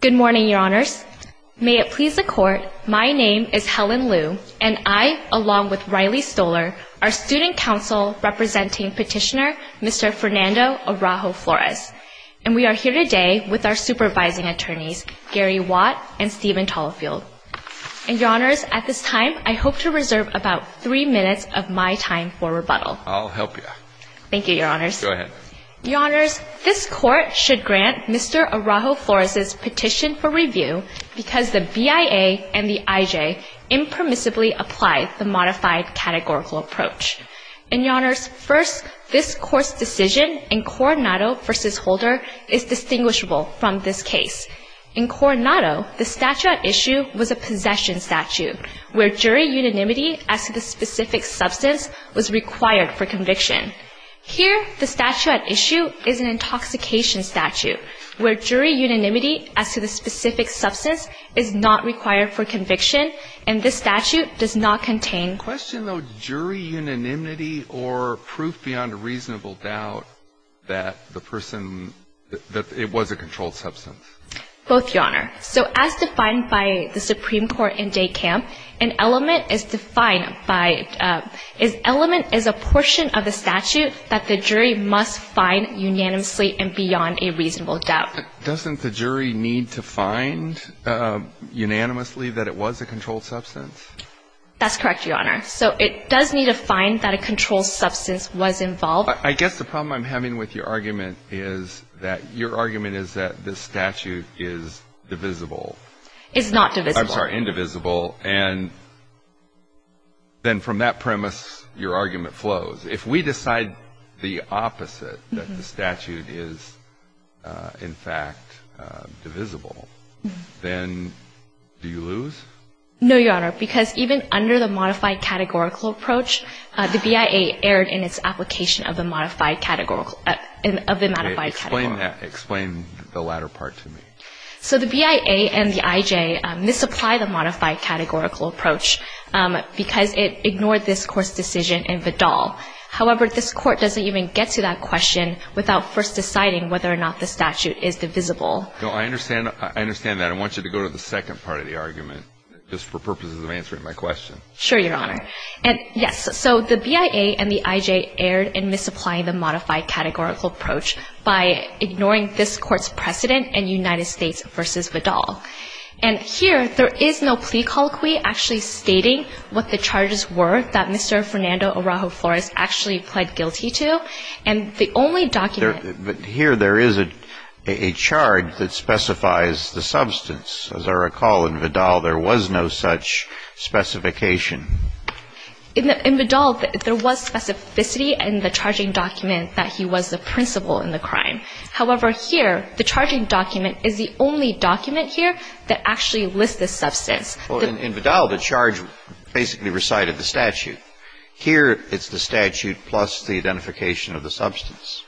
Good morning, Your Honors. May it please the Court, my name is Helen Liu, and I, along with Riley Stoller, are student counsel representing petitioner Mr. Fernando Araujo-Flores. And we are here today with our supervising attorneys, Gary Watt and Steven Tallefield. And, Your Honors, at this time, I hope to reserve about three minutes of my time for rebuttal. I'll help you. Thank you, Your Honors. Go ahead. Your Honors, this Court should grant Mr. Araujo-Flores' petition for review because the BIA and the IJ impermissibly apply the modified categorical approach. And, Your Honors, first, this Court's decision in Coronado v. Holder is distinguishable from this case. In Coronado, the statute at issue was a possession statute where jury unanimity as to the specific substance was required for conviction. Here, the statute at issue is an intoxication statute where jury unanimity as to the specific substance is not required for conviction, and this statute does not contain Question, though, jury unanimity or proof beyond a reasonable doubt that the person, that it was a controlled substance? Both, Your Honor. So, as defined by the Supreme Court in Day Camp, an element is defined by, an element is a portion of the statute that the jury must find unanimously and beyond a reasonable doubt. Doesn't the jury need to find unanimously that it was a controlled substance? That's correct, Your Honor. So, it does need to find that a controlled substance was involved. I guess the problem I'm having with your argument is that your argument is that the statute is divisible. It's not divisible. I'm sorry, indivisible. And then from that premise, your argument flows. If we decide the opposite, that the statute is, in fact, divisible, then do you lose? No, Your Honor, because even under the modified categorical approach, the BIA erred in its application of the modified categorical, of the modified categorical. Explain that. Explain the latter part to me. So, the BIA and the IJ misapply the modified categorical approach because it ignored this Court's decision in Vidal. However, this Court doesn't even get to that question without first deciding whether or not the statute is divisible. No, I understand. I understand that. I want you to go to the second part of the argument just for purposes of answering my question. Sure, Your Honor. And, yes, so the BIA and the IJ erred in misapplying the modified categorical approach by ignoring this Court's precedent in United States v. Vidal. And here, there is no plea colloquy actually stating what the charges were that Mr. Fernando Araujo-Flores actually pled guilty to. And the only document- But here, there is a charge that specifies the substance. As I recall, in Vidal, there was no such specification. In Vidal, there was specificity in the charging document that he was the principal in the crime. However, here, the charging document is the only document here that actually lists the substance. And here, it's the statute plus the identification of the substance.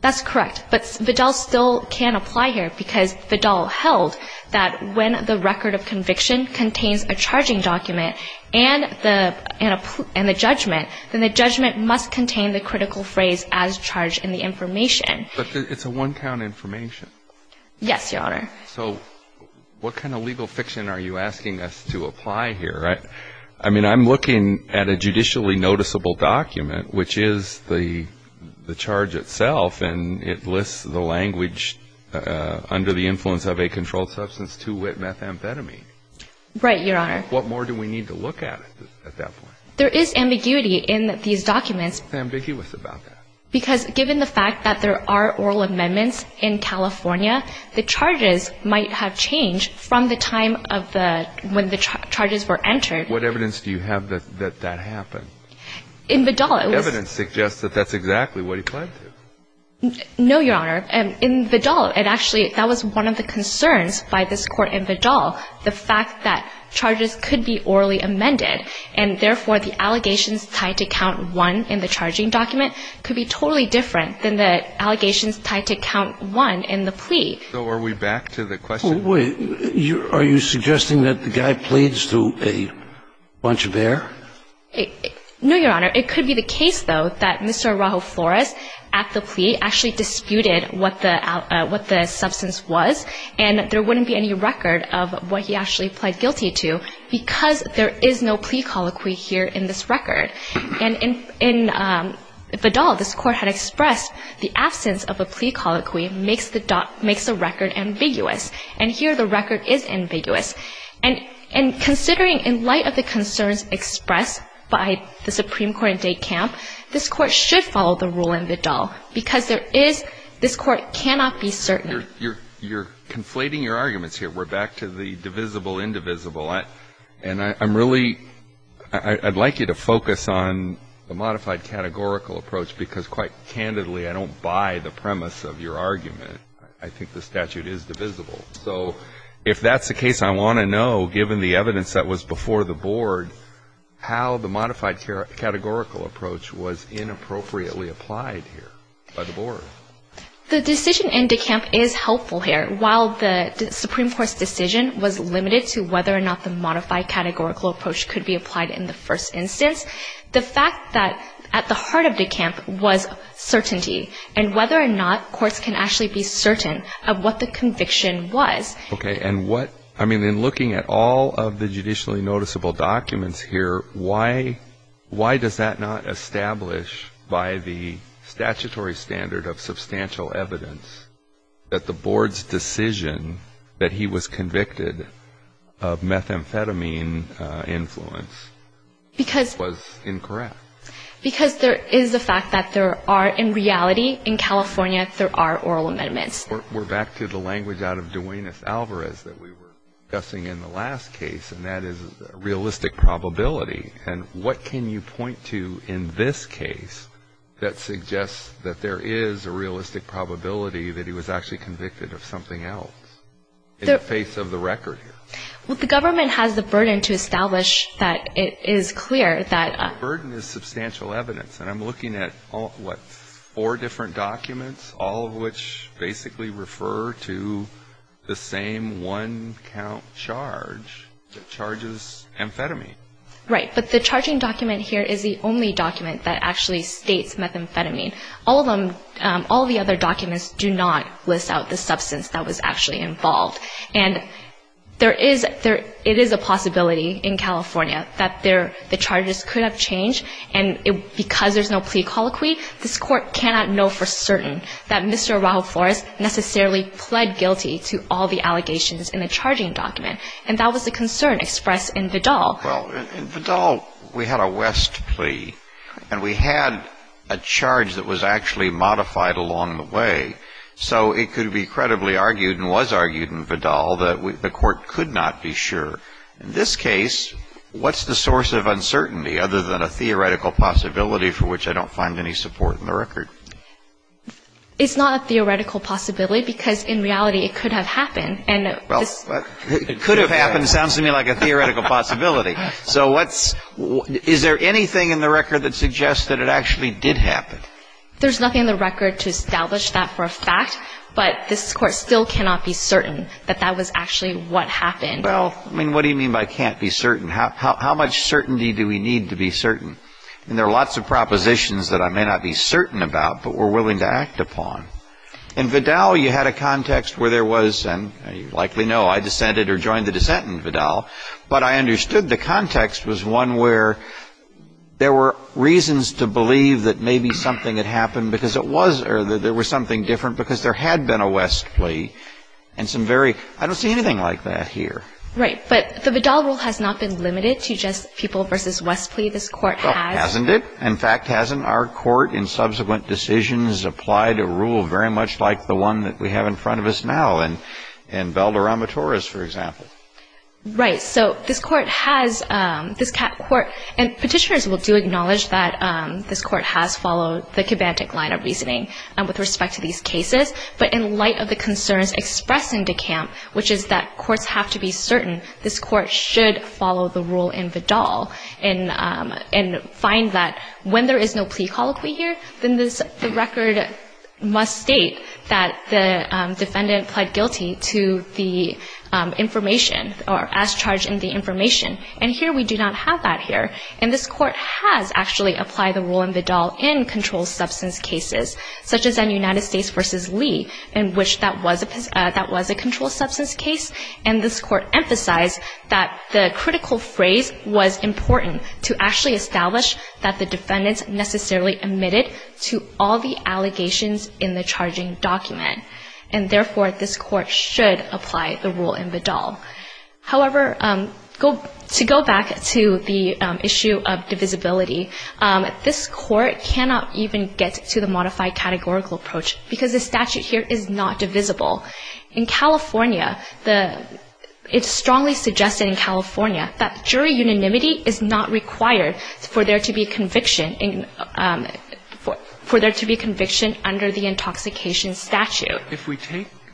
That's correct. But Vidal still can't apply here because Vidal held that when the record of conviction contains a charging document and the judgment, then the judgment must contain the critical phrase, as charged in the information. But it's a one-count information. Yes, Your Honor. So what kind of legal fiction are you asking us to apply here? I mean, I'm looking at a judicially noticeable document, which is the charge itself, and it lists the language under the influence of a controlled substance, 2-wit methamphetamine. Right, Your Honor. What more do we need to look at at that point? There is ambiguity in these documents. What's ambiguous about that? Because given the fact that there are oral amendments in California, the charges might have changed from the time of the – when the charges were entered. What evidence do you have that that happened? In Vidal, it was – Evidence suggests that that's exactly what he planned to. No, Your Honor. In Vidal, it actually – that was one of the concerns by this Court in Vidal, the fact that charges could be orally amended, and therefore, the allegations tied to count one in the charging document could be totally different than the allegations tied to count one in the plea. So are we back to the question? Wait. Are you suggesting that the guy pleads to a bunch of air? No, Your Honor. It could be the case, though, that Mr. Araujo Flores, at the plea, actually disputed what the substance was, and that there wouldn't be any record of what he actually pled guilty to because there is no plea colloquy here in this record. And in Vidal, this Court had expressed the absence of a plea colloquy makes the – makes the record ambiguous. And here, the record is ambiguous. And considering, in light of the concerns expressed by the Supreme Court in Date Camp, this Court should follow the rule in Vidal because there is – this Court cannot be certain. You're conflating your arguments here. We're back to the divisible-indivisible. And I'm really – I'd like you to focus on the modified categorical approach because, quite candidly, I don't buy the premise of your argument. I think the statute is divisible. So if that's the case, I want to know, given the evidence that was before the Board, how the modified categorical approach was inappropriately applied here by the Board. The decision in Date Camp is helpful here. While the Supreme Court's decision was limited to whether or not the modified categorical approach could be applied in the first instance, the fact that at the heart of Date Camp was certainty and whether or not courts can actually be certain of what the conviction was. Okay. And what – I mean, in looking at all of the judicially noticeable documents here, why does that not establish by the statutory standard of substantial evidence that the Board's decision that he was convicted of methamphetamine influence was incorrect? Because there is a fact that there are – in reality, in California, there are oral amendments. We're back to the language out of Duenas-Alvarez that we were discussing in the last case, and that is realistic probability. And what can you point to in this case that suggests that there is a realistic probability that he was actually convicted of something else in the face of the record here? Well, the government has the burden to establish that it is clear that – The burden is substantial evidence. And I'm looking at, what, four different documents, all of which basically refer to the same one-count charge that charges amphetamine. Right. But the charging document here is the only document that actually states methamphetamine. All of them – all the other documents do not list out the substance that was actually involved. And there is – it is a possibility in California that the charges could have changed, and because there's no plea colloquy, this Court cannot know for certain that Mr. Araujo Flores necessarily pled guilty to all the allegations in the charging document. And that was the concern expressed in Vidal. Well, in Vidal, we had a West plea, and we had a charge that was actually modified along the way. So it could be credibly argued and was argued in Vidal that the Court could not be sure. In this case, what's the source of uncertainty other than a theoretical possibility for which I don't find any support in the record? It's not a theoretical possibility because, in reality, it could have happened. Well, it could have happened sounds to me like a theoretical possibility. So what's – is there anything in the record that suggests that it actually did happen? There's nothing in the record to establish that for a fact, but this Court still cannot be certain that that was actually what happened. Well, I mean, what do you mean by can't be certain? How much certainty do we need to be certain? I mean, there are lots of propositions that I may not be certain about, but we're willing to act upon. In Vidal, you had a context where there was – and you likely know I dissented or joined the dissent in Vidal, but I understood the context was one where there were reasons to believe that maybe something had happened because it was – or that there was something different because there had been a West plea. And some very – I don't see anything like that here. Right, but the Vidal rule has not been limited to just people versus West plea. This Court has. Oh, hasn't it? In fact, hasn't our Court in subsequent decisions applied a rule very much like the one that we have in front of us now in Valderrama Torres, for example? Right. So this Court has – this Court – and Petitioners will do acknowledge that this Court has followed the Kibantik line of reasoning with respect to these cases, but in light of the concerns expressed in De Camp, which is that courts have to be certain, this Court should follow the rule in Vidal and find that when there is no plea colloquy here, then the record must state that the defendant pled guilty to the information or as charged in the information. And here we do not have that here. And this Court has actually applied the rule in Vidal in controlled substance cases, such as in United States v. Lee, in which that was a controlled substance case. And this Court emphasized that the critical phrase was important to actually establish that the defendants necessarily admitted to all the allegations in the charging document. And therefore, this Court should apply the rule in Vidal. However, to go back to the issue of divisibility, this Court cannot even get to the modified categorical approach because the statute here is not divisible. In California, it's strongly suggested in California that jury unanimity is not required for there to be conviction under the intoxication statute.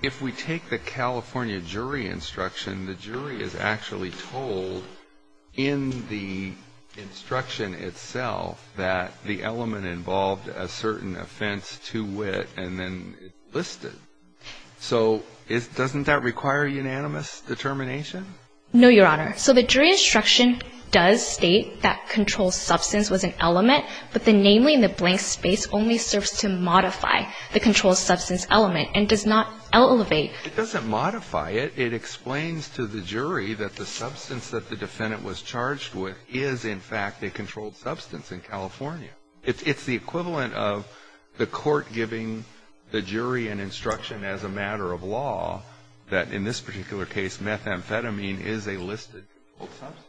If we take the California jury instruction, the jury is actually told in the instruction itself that the element involved a certain offense to wit and then it's listed. So doesn't that require unanimous determination? No, Your Honor. So the jury instruction does state that controlled substance was an element, but the namely in the blank space only serves to modify the controlled substance element and does not elevate. It doesn't modify it. It explains to the jury that the substance that the defendant was charged with is, in fact, a controlled substance in California. It's the equivalent of the Court giving the jury an instruction as a matter of law that, in this particular case, methamphetamine is a listed controlled substance.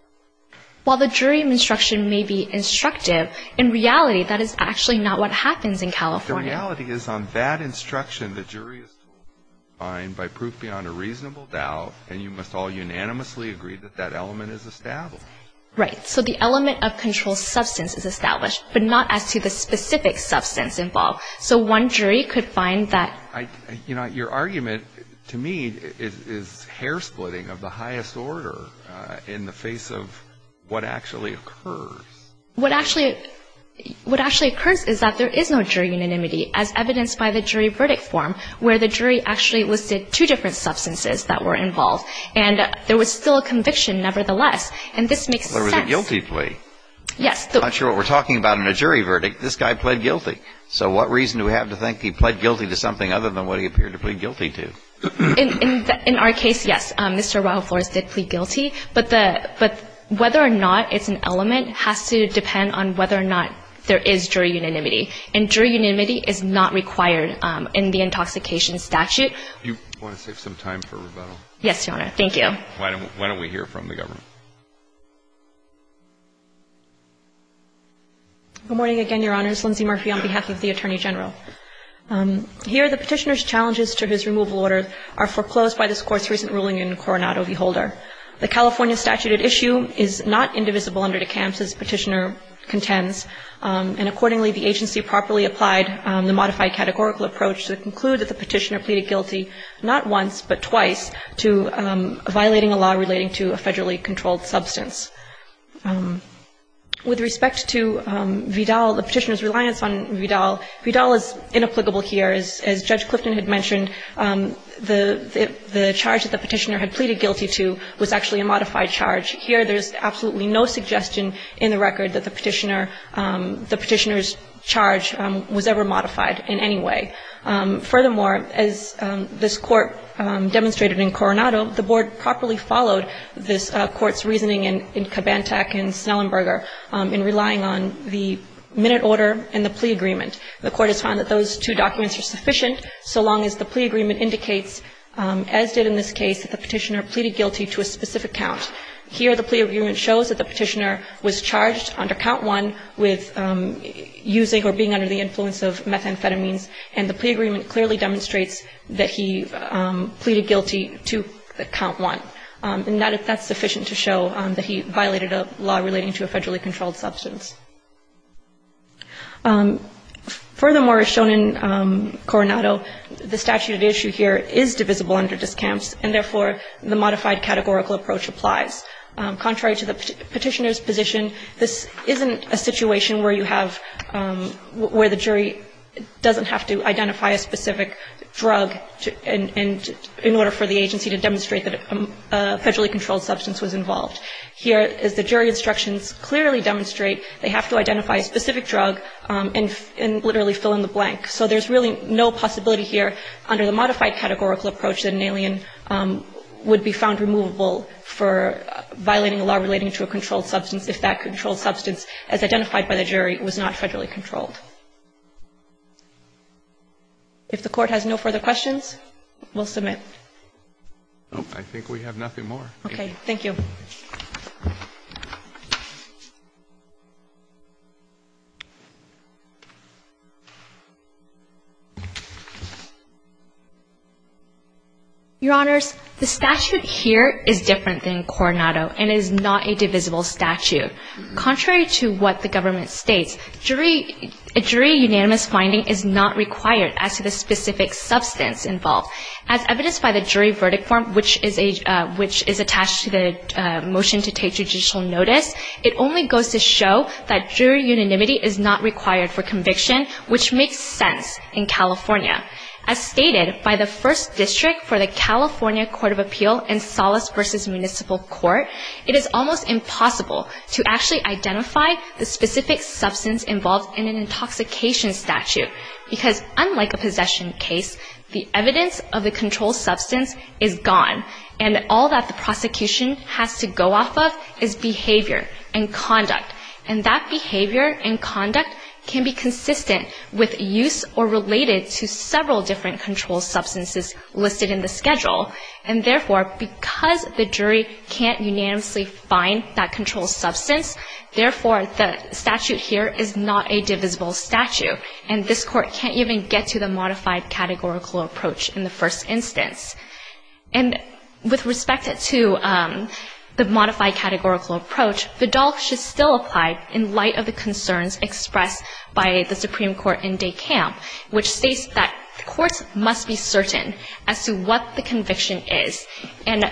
While the jury instruction may be instructive, in reality, that is actually not what happens in California. The reality is on that instruction, the jury is told to find by proof beyond a reasonable doubt and you must all unanimously agree that that element is established. Right. So the element of controlled substance is established, but not as to the specific substance involved. So one jury could find that. You know, your argument to me is hair splitting of the highest order in the face of what actually occurs. What actually occurs is that there is no jury unanimity as evidenced by the jury verdict form where the jury actually listed two different substances that were involved and there was still a conviction nevertheless. And this makes sense. Well, it was a guilty plea. Yes. I'm not sure what we're talking about in a jury verdict. This guy pled guilty. So what reason do we have to think he pled guilty to something other than what he appeared to plead guilty to? In our case, yes, Mr. Rahul Flores did plead guilty. But whether or not it's an element has to depend on whether or not there is jury unanimity. And jury unanimity is not required in the intoxication statute. Do you want to take some time for rebuttal? Yes, Your Honor. Thank you. Why don't we hear from the government? Good morning again, Your Honors. Lindsay Murphy on behalf of the Attorney General. Here, the Petitioner's challenges to his removal order are foreclosed by this Court's recent ruling in Coronado v. Holder. The California statute at issue is not indivisible under DeCamps, as Petitioner contends. And accordingly, the agency properly applied the modified categorical approach to conclude that the Petitioner pleaded guilty not once but twice to violating a law relating to a federally controlled substance. With respect to Vidal, the Petitioner's reliance on Vidal, Vidal is inapplicable here. As Judge Clifton had mentioned, the charge that the Petitioner had pleaded guilty to was actually a modified charge. Here, there's absolutely no suggestion in the record that the Petitioner's charge was ever modified in any way. Furthermore, as this Court demonstrated in Coronado, the Board properly followed this Court's reasoning in Kabantak and Snellenberger in relying on the minute order and the plea agreement. The Court has found that those two documents are sufficient so long as the plea agreement indicates, as did in this case, that the Petitioner pleaded guilty to a specific count. Here, the plea agreement shows that the Petitioner was charged under count one with using or being under the influence of methamphetamines, and the plea agreement clearly demonstrates that he pleaded guilty to count one. And that's sufficient to show that he violated a law relating to a federally controlled substance. Furthermore, as shown in Coronado, the statute at issue here is divisible under discounts, and therefore, the modified categorical approach applies. Contrary to the Petitioner's position, this isn't a situation where you have, where the jury doesn't have to identify a specific drug in order for the agency to demonstrate that a federally controlled substance was involved. Here, as the jury instructions clearly demonstrate, they have to identify a specific drug and literally fill in the blank. So there's really no possibility here under the modified categorical approach that an alien would be found removable for violating a law relating to a controlled substance if that controlled substance, as identified by the jury, was not federally controlled. If the Court has no further questions, we'll submit. I think we have nothing more. Okay. Thank you. Your Honors, the statute here is different than Coronado, and it is not a divisible statute. Contrary to what the government states, a jury unanimous finding is not required as to the specific substance involved. As evidenced by the jury verdict form, which is a, which is attached to the statute, motion to take judicial notice, it only goes to show that jury unanimity is not required for conviction, which makes sense in California. As stated by the First District for the California Court of Appeal and Solace v. Municipal Court, it is almost impossible to actually identify the specific substance involved in an intoxication statute, because unlike a possession case, the evidence of the controlled substance is gone, and all that the prosecution has to go off of is behavior and conduct. And that behavior and conduct can be consistent with use or related to several different controlled substances listed in the schedule. And therefore, because the jury can't unanimously find that controlled substance, therefore the statute here is not a divisible statute, and this Court can't even get to the modified categorical approach in the first instance. And with respect to the modified categorical approach, the DOLC should still apply in light of the concerns expressed by the Supreme Court in De Camp, which states that courts must be certain as to what the conviction is. And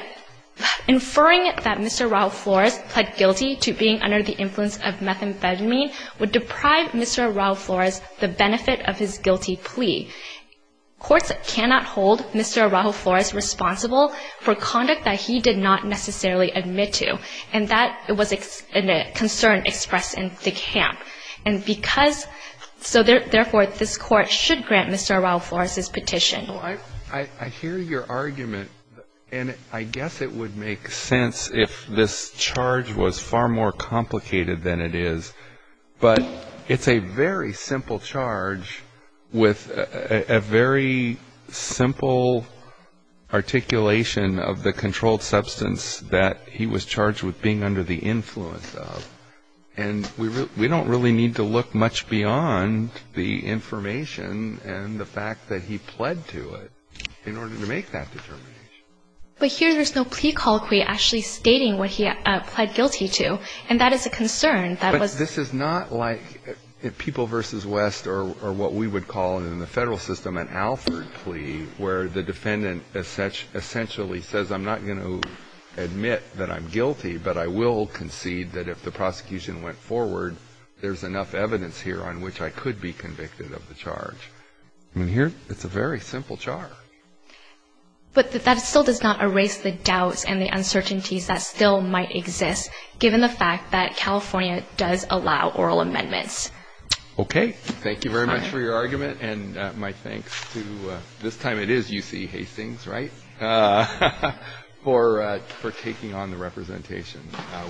inferring that Mr. Raul Flores pled guilty to being under the influence of methamphetamine would deprive Mr. Raul Flores the benefit of his guilty plea. Courts cannot hold Mr. Raul Flores responsible for conduct that he did not necessarily admit to, and that was a concern expressed in De Camp. And because so therefore this Court should grant Mr. Raul Flores his petition. I hear your argument, and I guess it would make sense if this charge was far more complicated than it is. But it's a very simple charge with a very simple articulation of the controlled substance that he was charged with being under the influence of. And we don't really need to look much beyond the information and the fact that he pled to it in order to make that determination. But here there's no plea colloquy actually stating what he pled guilty to, and that is a concern. But this is not like People v. West or what we would call in the Federal system an Alford plea, where the defendant essentially says, I'm not going to admit that I'm guilty, but I will concede that if the prosecution went forward, there's enough evidence here on which I could be convicted of the charge. I mean, here it's a very simple charge. But that still does not erase the doubts and the uncertainties that still might exist, given the fact that California does allow oral amendments. Okay. Thank you very much for your argument. And my thanks to, this time it is UC Hastings, right, for taking on the representation.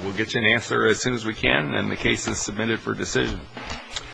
We'll get you an answer as soon as we can. And the case is submitted for decision.